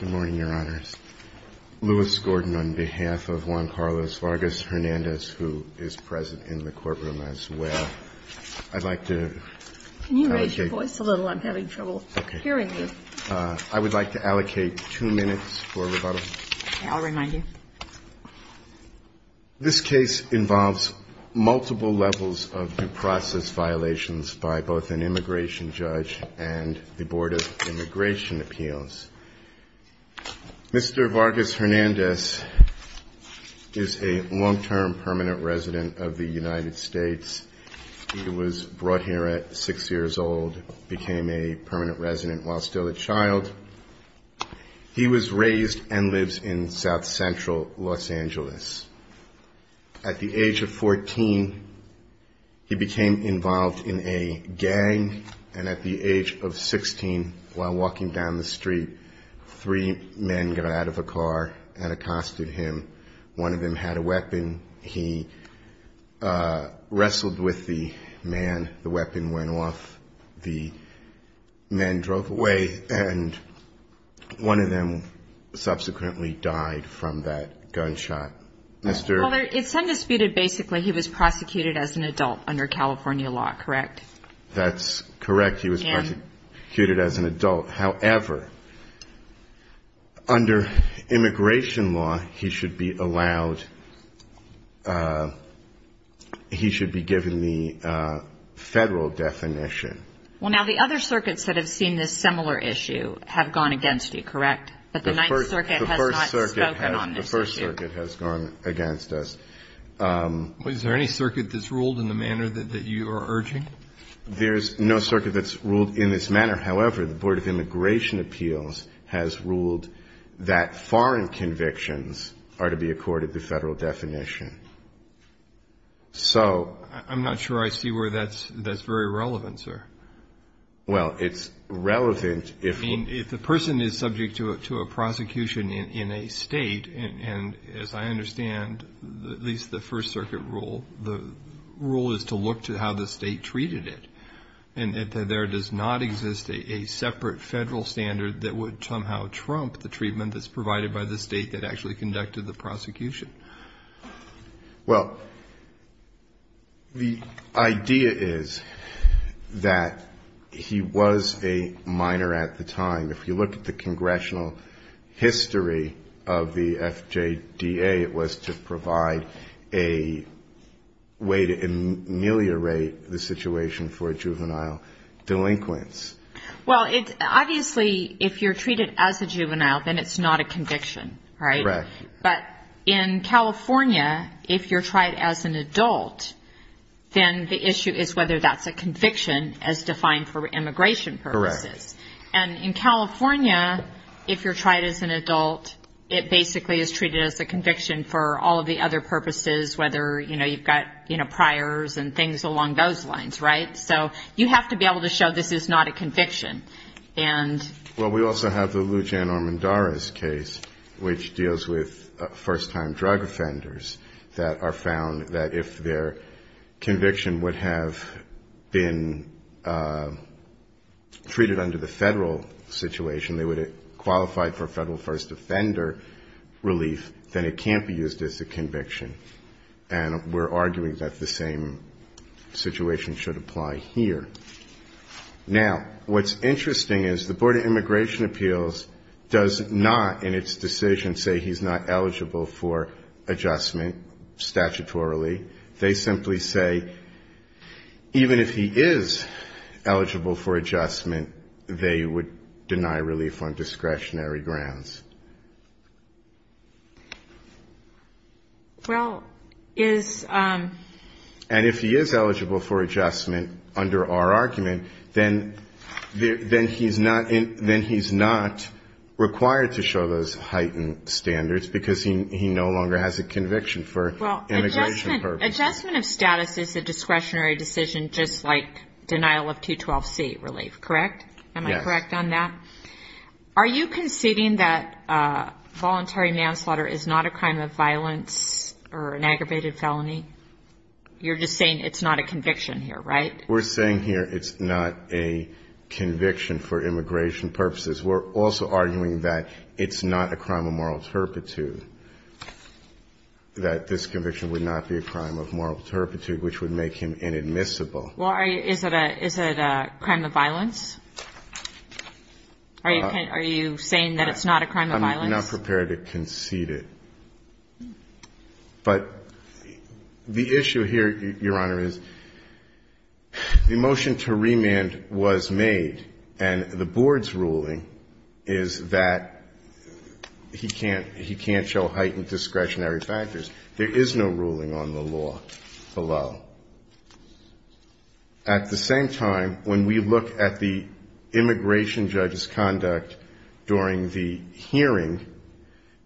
Good morning, Your Honors. Lewis Gordon on behalf of Juan Carlos Vargas-Hernandez, who is present in the courtroom as well. I'd like to allocate- Can you raise your voice a little? I'm having trouble hearing you. I would like to allocate two minutes for rebuttal. I'll remind you. This case involves multiple levels of due process violations by both an immigration judge and the Board of Immigration Appeals. Mr. Vargas-Hernandez is a long-term permanent resident of the United States. He was brought here at 6 years old, became a permanent resident while still a child. He was raised and lives in South Central Los Angeles. At the age of 14, he became involved in a gang. And at the age of 16, while walking down the street, three men got out of a car and accosted him. One of them had a weapon. He wrestled with the man. The weapon went off. The men drove away. And one of them subsequently died from that gunshot. Well, it's undisputed, basically, he was prosecuted as an adult under California law, correct? That's correct. He was prosecuted as an adult. However, under immigration law, he should be allowed-he should be given the federal definition. Well, now, the other circuits that have seen this similar issue have gone against you, correct? But the Ninth Circuit has not spoken on this issue. The First Circuit has gone against us. Is there any circuit that's ruled in the manner that you are urging? There's no circuit that's ruled in this manner. However, the Board of Immigration Appeals has ruled that foreign convictions are to be accorded the federal definition. So- I'm not sure I see where that's very relevant, sir. Well, it's relevant if- If the person is subject to a prosecution in a state, and as I understand, at least the First Circuit rule, the rule is to look to how the state treated it, and that there does not exist a separate federal standard that would somehow trump the treatment that's provided by the state that actually conducted the prosecution. Well, the idea is that he was a minor at the time. If you look at the congressional history of the FJDA, it was to provide a way to ameliorate the situation for juvenile delinquents. Well, obviously, if you're treated as a juvenile, then it's not a conviction, right? Correct. But in California, if you're tried as an adult, then the issue is whether that's a conviction as defined for immigration purposes. Correct. And in California, if you're tried as an adult, it basically is treated as a conviction for all of the other purposes, whether you've got priors and things along those lines, right? So you have to be able to show this is not a conviction. Well, we also have the Lujan-Armendariz case, which deals with first-time drug offenders, that are found that if their conviction would have been treated under the federal situation, they would have qualified for federal first offender relief, then it can't be used as a conviction. And we're arguing that the same situation should apply here. Now, what's interesting is the Board of Immigration Appeals does not, in its decision, say he's not eligible for adjustment statutorily. They simply say even if he is eligible for adjustment, they would deny relief on discretionary grounds. And if he is eligible for adjustment under our argument, then he's not required to show those heightened standards because he no longer has a conviction for immigration purposes. Well, adjustment of status is a discretionary decision just like denial of 212C relief, correct? Yes. Am I correct on that? Are you conceding that voluntary manslaughter is not a crime of violence or an aggravated felony? You're just saying it's not a conviction here, right? We're saying here it's not a conviction for immigration purposes. We're also arguing that it's not a crime of moral turpitude, that this conviction would not be a crime of moral turpitude, which would make him inadmissible. Well, is it a crime of violence? Are you saying that it's not a crime of violence? I'm not prepared to concede it. But the issue here, Your Honor, is the motion to remand was made, and the Board's ruling is that he can't show heightened discretionary factors. There is no ruling on the law below. At the same time, when we look at the immigration judge's conduct during the hearing,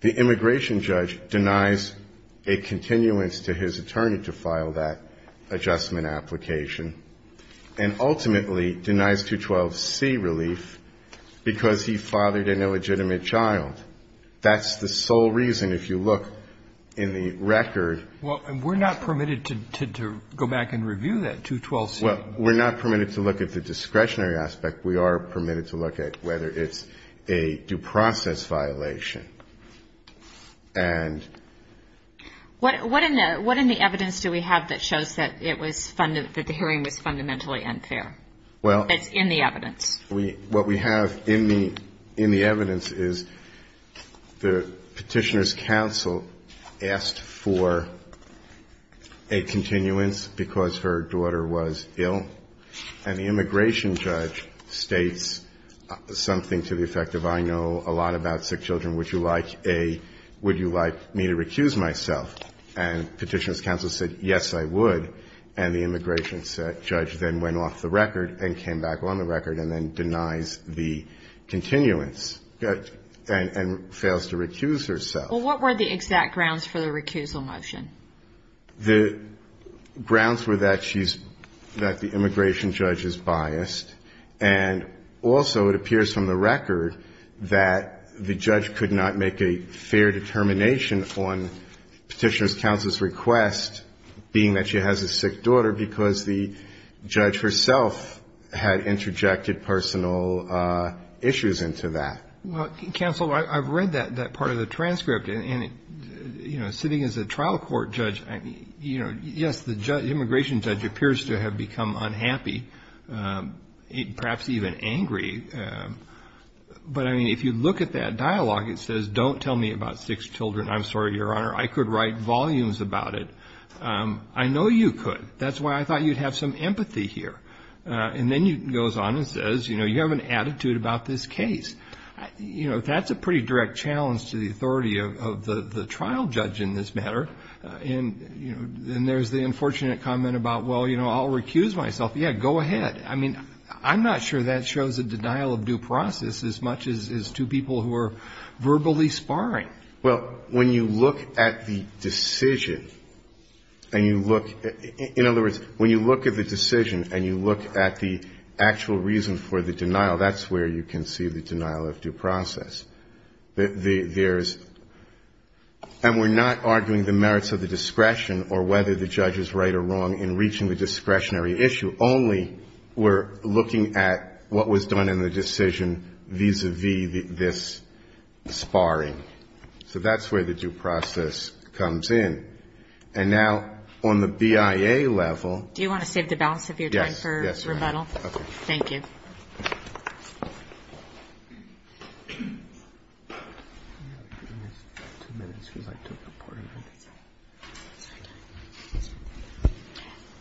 the immigration judge denies a continuance to his attorney to file that adjustment application, and ultimately denies 212C relief because he fathered an illegitimate child. That's the sole reason, if you look in the record. Well, we're not permitted to go back and review that 212C. Well, we're not permitted to look at the discretionary aspect. We are permitted to look at whether it's a due process violation. What in the evidence do we have that shows that the hearing was fundamentally unfair? It's in the evidence. What we have in the evidence is the Petitioner's counsel asked for a continuance because her daughter was ill, and the immigration judge states something to the effect of, I know a lot about sick children. Would you like me to recuse myself? And Petitioner's counsel said, yes, I would. And the immigration judge then went off the record and came back on the record and then denies the continuance, and fails to recuse herself. Well, what were the exact grounds for the recusal motion? The grounds were that she's, that the immigration judge is biased, and also it appears from the record that the judge could not make a fair determination on Petitioner's counsel's request, being that she has a sick daughter, because the judge herself had interjected personal issues into that. Well, counsel, I've read that part of the transcript. And, you know, sitting as a trial court judge, you know, yes, the immigration judge appears to have become unhappy, perhaps even angry. But, I mean, if you look at that dialogue, it says don't tell me about sick children. I'm sorry, Your Honor, I could write volumes about it. I know you could. That's why I thought you'd have some empathy here. And then he goes on and says, you know, you have an attitude about this case. You know, that's a pretty direct challenge to the authority of the trial judge in this matter. And, you know, then there's the unfortunate comment about, well, you know, I'll recuse myself. Yeah, go ahead. I mean, I'm not sure that shows a denial of due process as much as to people who are verbally sparring. Well, when you look at the decision and you look at, in other words, when you look at the decision and you look at the actual reason for the denial, that's where you can see the denial of due process. There's, and we're not arguing the merits of the discretion or whether the judge is right or wrong in reaching the discretionary issue. You only were looking at what was done in the decision vis-a-vis this sparring. So that's where the due process comes in. And now on the BIA level. Do you want to save the balance of your time for rebuttal? Yes, Your Honor. Okay. Thank you. Two minutes, we'd like to report.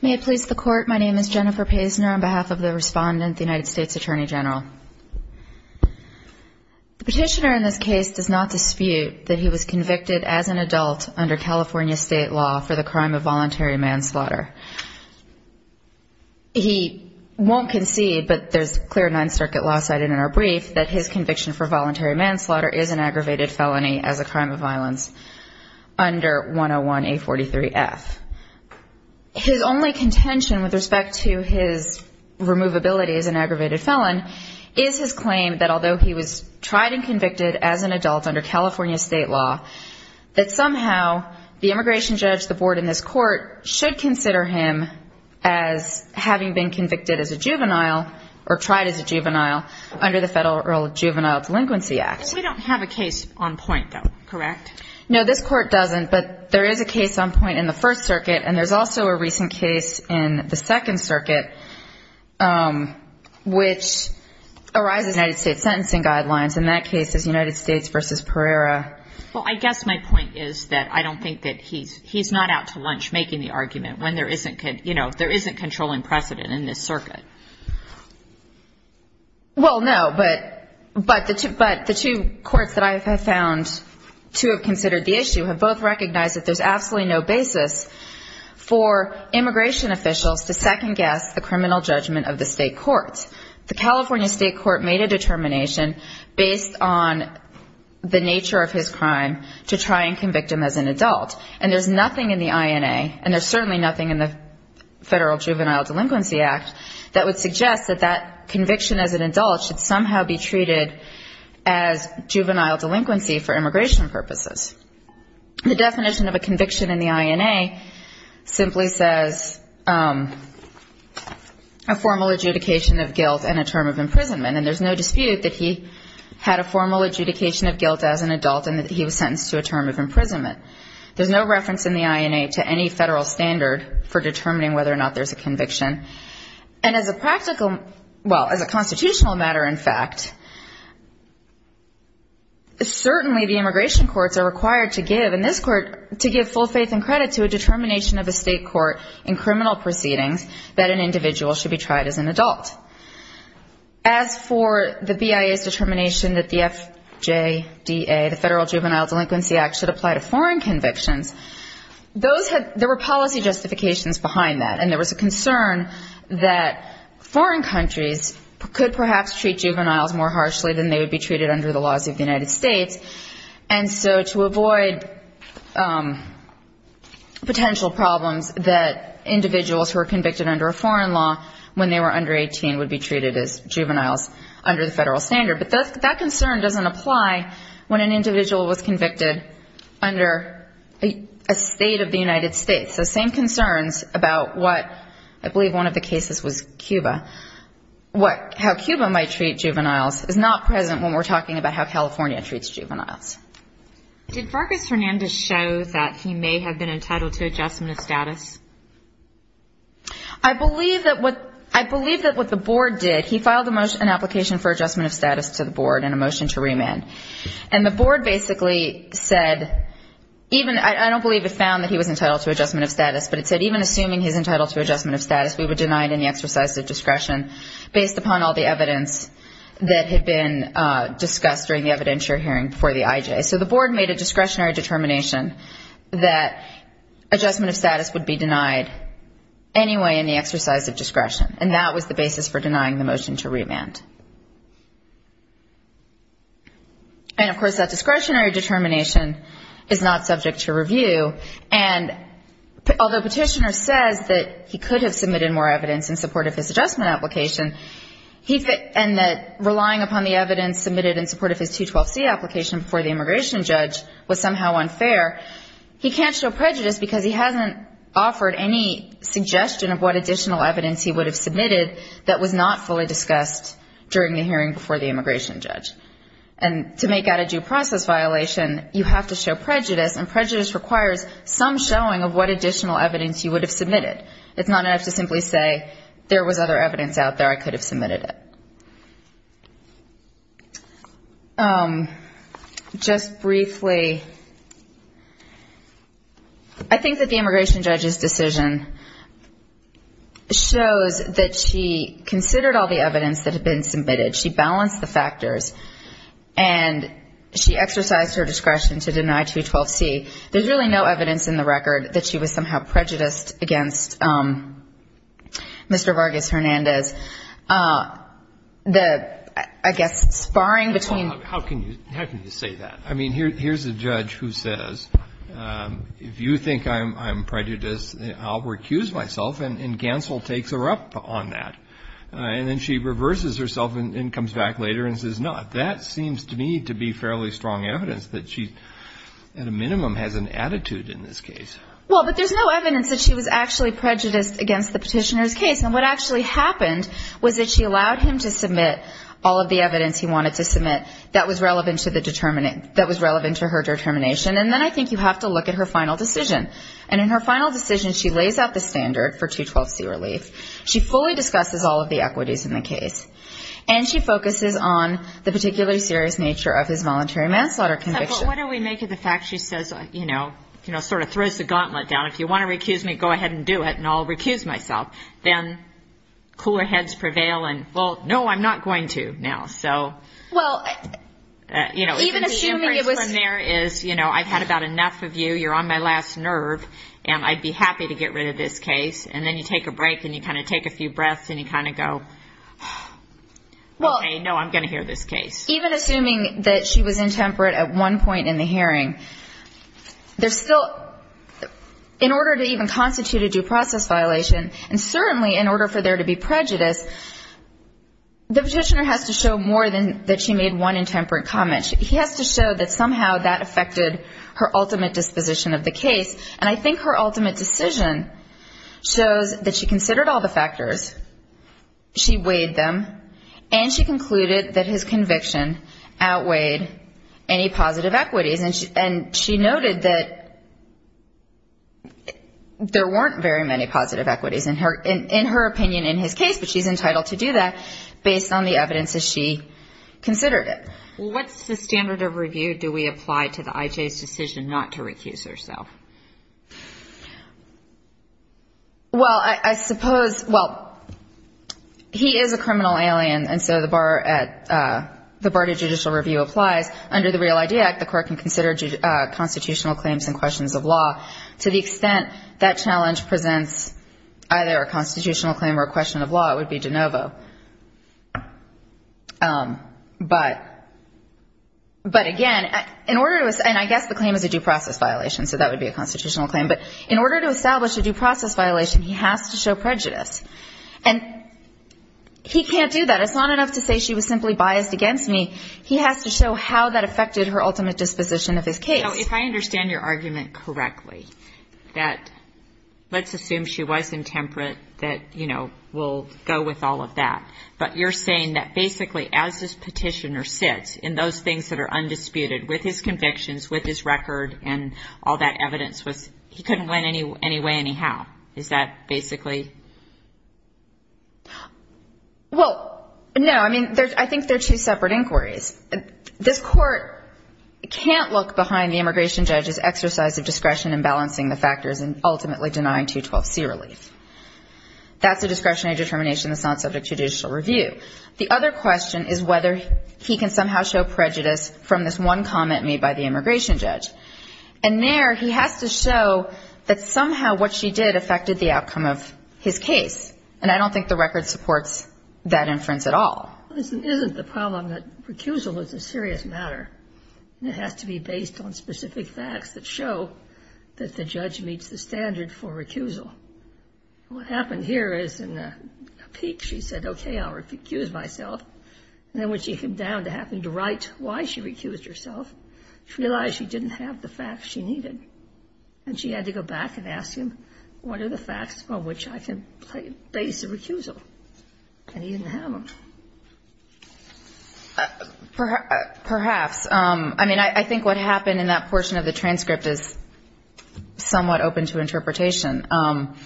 May it please the Court, my name is Jennifer Paisner on behalf of the respondent, the United States Attorney General. The petitioner in this case does not dispute that he was convicted as an adult under California state law for the crime of voluntary manslaughter. He won't concede, but there's clear Ninth Circuit law cited in our brief that his conviction for voluntary manslaughter is an aggravated felony as a crime of violence under 101A43F. His only contention with respect to his removability as an aggravated felon is his claim that although he was tried and convicted as an adult under California state law, that somehow the immigration judge, the board in this court, should consider him as having been convicted as a juvenile or tried as a juvenile under the Federal Earl of Juvenile Delinquency Act. We don't have a case on point, though, correct? No, this Court doesn't, but there is a case on point in the First Circuit, and there's also a recent case in the Second Circuit, which arises United States sentencing guidelines, and that case is United States v. Pereira. Well, I guess my point is that I don't think that he's not out to lunch making the argument when there isn't controlling precedent in this circuit. Well, no, but the two courts that I have found to have considered the issue have both recognized that there's absolutely no basis for immigration officials to second-guess the criminal judgment of the state courts. The California state court made a determination based on the nature of his crime to try and convict him as an adult, and there's nothing in the INA, and there's certainly nothing in the Federal Juvenile Delinquency Act, that would suggest that that conviction as an adult should somehow be treated as juvenile delinquency for immigration purposes. The definition of a conviction in the INA simply says a formal adjudication of guilt and a term of imprisonment, and there's no dispute that he had a formal adjudication of guilt as an adult and that he was sentenced to a term of imprisonment. There's no reference in the INA to any Federal standard for determining whether or not there's a conviction, and as a matter of fact, it's required to give, in this court, to give full faith and credit to a determination of a state court in criminal proceedings that an individual should be tried as an adult. As for the BIA's determination that the FJDA, the Federal Juvenile Delinquency Act, should apply to foreign convictions, there were policy justifications behind that, and there was a concern that foreign countries could perhaps treat juveniles more harshly than they would be treated under the laws of the United States, and so to avoid potential problems that individuals who are convicted under a foreign law when they were under 18 would be treated as juveniles under the Federal standard. But that concern doesn't apply when an individual was convicted under a state of the United States. So same concerns about what I believe one of the cases was Cuba. How Cuba might treat juveniles is not present when we're talking about how California treats juveniles. Did Fergus Hernandez show that he may have been entitled to adjustment of status? I believe that what the board did, he filed an application for adjustment of status to the board and a motion to remand, and the board basically said even, I don't believe it found that he was entitled to adjustment of status, but it said even assuming he's entitled to adjustment of status, we would deny any exercise of discretion based upon all the evidence that had been discussed during the evidentiary hearing before the IJ. So the board made a discretionary determination that adjustment of status would be denied anyway in the exercise of discretion, and that was the basis for denying the motion to remand. And, of course, that discretionary determination is not subject to review. And although Petitioner says that he could have submitted more evidence in support of his adjustment application, and that relying upon the evidence submitted in support of his 212C application before the immigration judge was somehow unfair, he can't show prejudice because he hasn't offered any suggestion of what additional evidence he would have submitted that was not fully discussed during the hearing before the immigration judge. And to make out a due process violation, you have to show prejudice, and prejudice requires some showing of what additional evidence you would have submitted. It's not enough to simply say there was other evidence out there, I could have submitted it. Just briefly, I think that the immigration judge's decision shows that she considered all the evidence that was submitted, she balanced the factors, and she exercised her discretion to deny 212C. There's really no evidence in the record that she was somehow prejudiced against Mr. Vargas Hernandez. The, I guess, sparring between the two. How can you say that? I mean, here's a judge who says, if you think I'm prejudiced, I'll recuse myself, and Ganssel takes her up on that. And then she reverses herself and comes back later and says, no, that seems to me to be fairly strong evidence that she, at a minimum, has an attitude in this case. Well, but there's no evidence that she was actually prejudiced against the petitioner's case, and what actually happened was that she allowed him to submit all of the evidence he wanted to submit that was relevant to her determination. And then I think you have to look at her final decision. And in her final decision, she lays out the standard for 212C relief, she fully discusses all of the equities in the case, and she focuses on the particularly serious nature of his voluntary manslaughter conviction. But what do we make of the fact she says, you know, sort of throws the gauntlet down. If you want to recuse me, go ahead and do it, and I'll recuse myself. Then cooler heads prevail and, well, no, I'm not going to now. So, you know, even assuming it was there is, you know, I've had about enough of you, you're on my last nerve, and I'd be happy to get rid of this case, and then you take a break and you kind of take a few breaths and you kind of go, okay, no, I'm going to hear this case. Even assuming that she was intemperate at one point in the hearing, there's still, in order to even constitute a due process violation, and certainly in order for there to be prejudice, the petitioner has to show more than that she made one intemperate comment. He has to show that somehow that affected her ultimate disposition of the case. And I think her ultimate decision shows that she considered all the factors, she weighed them, and she concluded that his conviction outweighed any positive equities. And she noted that there weren't very many positive equities in her opinion in his case, but she's entitled to do that based on the evidence that she considered it. What's the standard of review do we apply to the I.J.'s decision not to recuse herself? Well, I suppose, well, he is a criminal alien, and so the BART judicial review applies. Under the Real ID Act, the court can consider constitutional claims and questions of law. To the extent that challenge presents either a constitutional claim or a question of law, it would be de novo. But, again, in order to, and I guess the claim is a due process violation, so that would be a constitutional claim. But in order to establish a due process violation, he has to show prejudice. And he can't do that. It's not enough to say she was simply biased against me. He has to show how that affected her ultimate disposition of his case. Now, if I understand your argument correctly, that let's assume she was intemperate, that, you know, we'll go with all of that. But you're saying that basically as this petitioner sits in those things that are undisputed with his convictions, with his record, and all of that, that's a discretionary determination. Well, no, I mean, I think they're two separate inquiries. This court can't look behind the immigration judge's exercise of discretion in balancing the factors and ultimately denying 212C relief. That's a discretionary determination that's not subject to judicial review. The other question is whether he can somehow show prejudice from this one comment made by the immigration judge. And I don't think the record supports that inference at all. And he didn't have them. Perhaps. I mean, I think what happened in that portion of the transcript is somewhat open to interpretation. Don't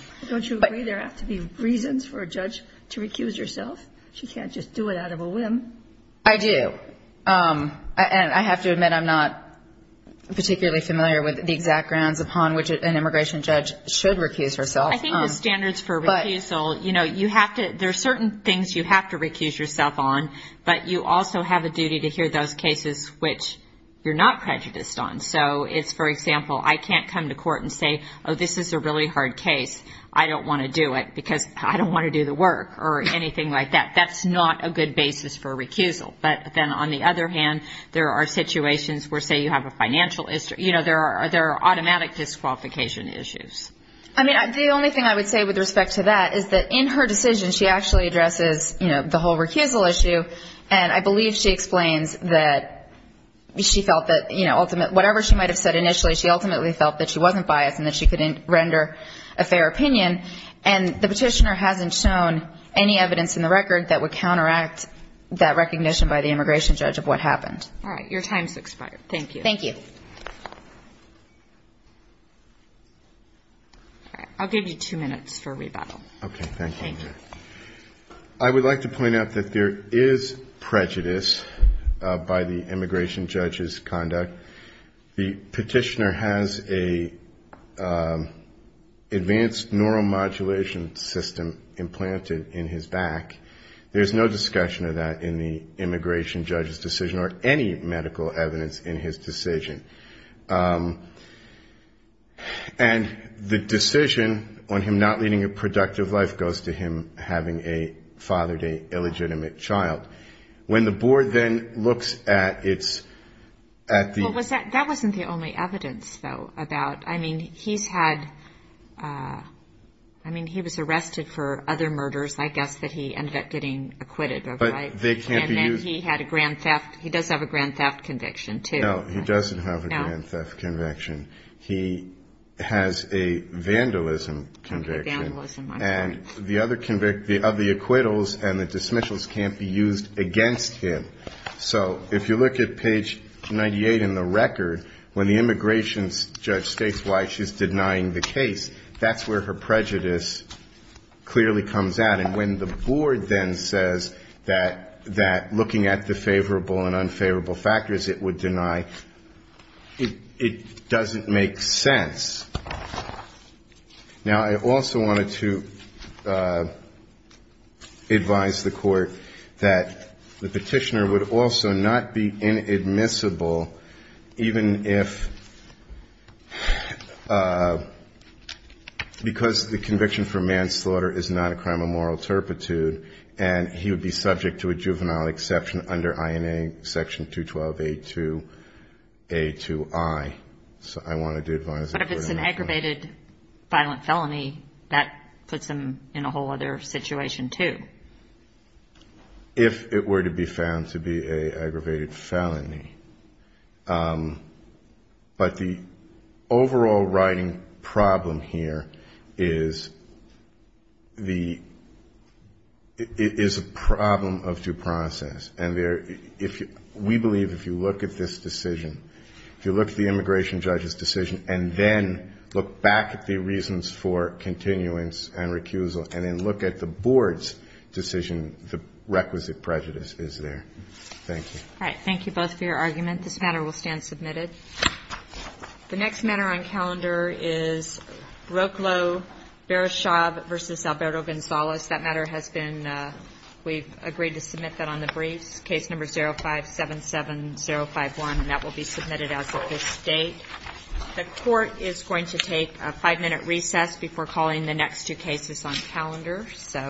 you agree there have to be reasons for a judge to recuse herself? She can't just do it out of a whim. I do. And I have to admit I'm not particularly familiar with the exact grounds upon which an immigration judge should recuse herself. I think the standards for recusal, you know, there are certain things you have to recuse yourself on, but you also have a duty to hear those cases which you're not prejudiced on. So it's, for example, I can't come to court and say, oh, this is a really hard case, I don't want to do it because I don't want to do the work or anything like that, that's not a good basis for recusal. But then on the other hand, there are situations where, say, you have a financial issue, you know, there are automatic disqualification issues. I mean, the only thing I would say with respect to that is that in her decision, she actually addresses, you know, the whole recusal issue, and I believe she explains that she felt that, you know, whatever she might have said initially, she ultimately felt that she wasn't biased and that she couldn't render a fair opinion, and the petitioner hasn't shown any evidence in the record that would counteract that recognition by the immigration judge of what happened. All right. Your time has expired. Thank you. Thank you. I'll give you two minutes for rebuttal. I would like to point out that there is prejudice by the immigration judge's conduct. The petitioner has an advanced neuromodulation system implanted in his back. There's no discussion of that in the immigration judge's decision or any medical evidence in his decision. And the decision on him not leading a productive life goes to him having a fathered, illegitimate child. When the board then looks at its... Well, that wasn't the only evidence, though, about... I mean, he's had... I mean, he was arrested for other murders, I guess, that he ended up getting acquitted of, right? And then he had a grand theft. He does have a grand theft conviction, too. No, he doesn't have a grand theft conviction. He has a vandalism conviction, and the other acquittals and the dismissals can't be used against him. So if you look at page 98 in the record, when the immigration judge states why she's denying the case, that's where her prejudice clearly comes out. That looking at the favorable and unfavorable factors it would deny, it doesn't make sense. Now, I also wanted to advise the Court that the petitioner would also not be inadmissible, even if... Because the conviction for manslaughter is not a crime of moral turpitude, and he would be subject to a jury juvenile exception under INA section 212A2A2I. So I wanted to advise... But if it's an aggravated violent felony, that puts him in a whole other situation, too. If it were to be found to be an aggravated felony. But the overall writing problem here is the... And we believe if you look at this decision, if you look at the immigration judge's decision, and then look back at the reasons for continuance and recusal, and then look at the board's decision, the requisite prejudice is there. Thank you. All right. We've agreed to submit that on the briefs, case number 05-77051. And that will be submitted as of this date.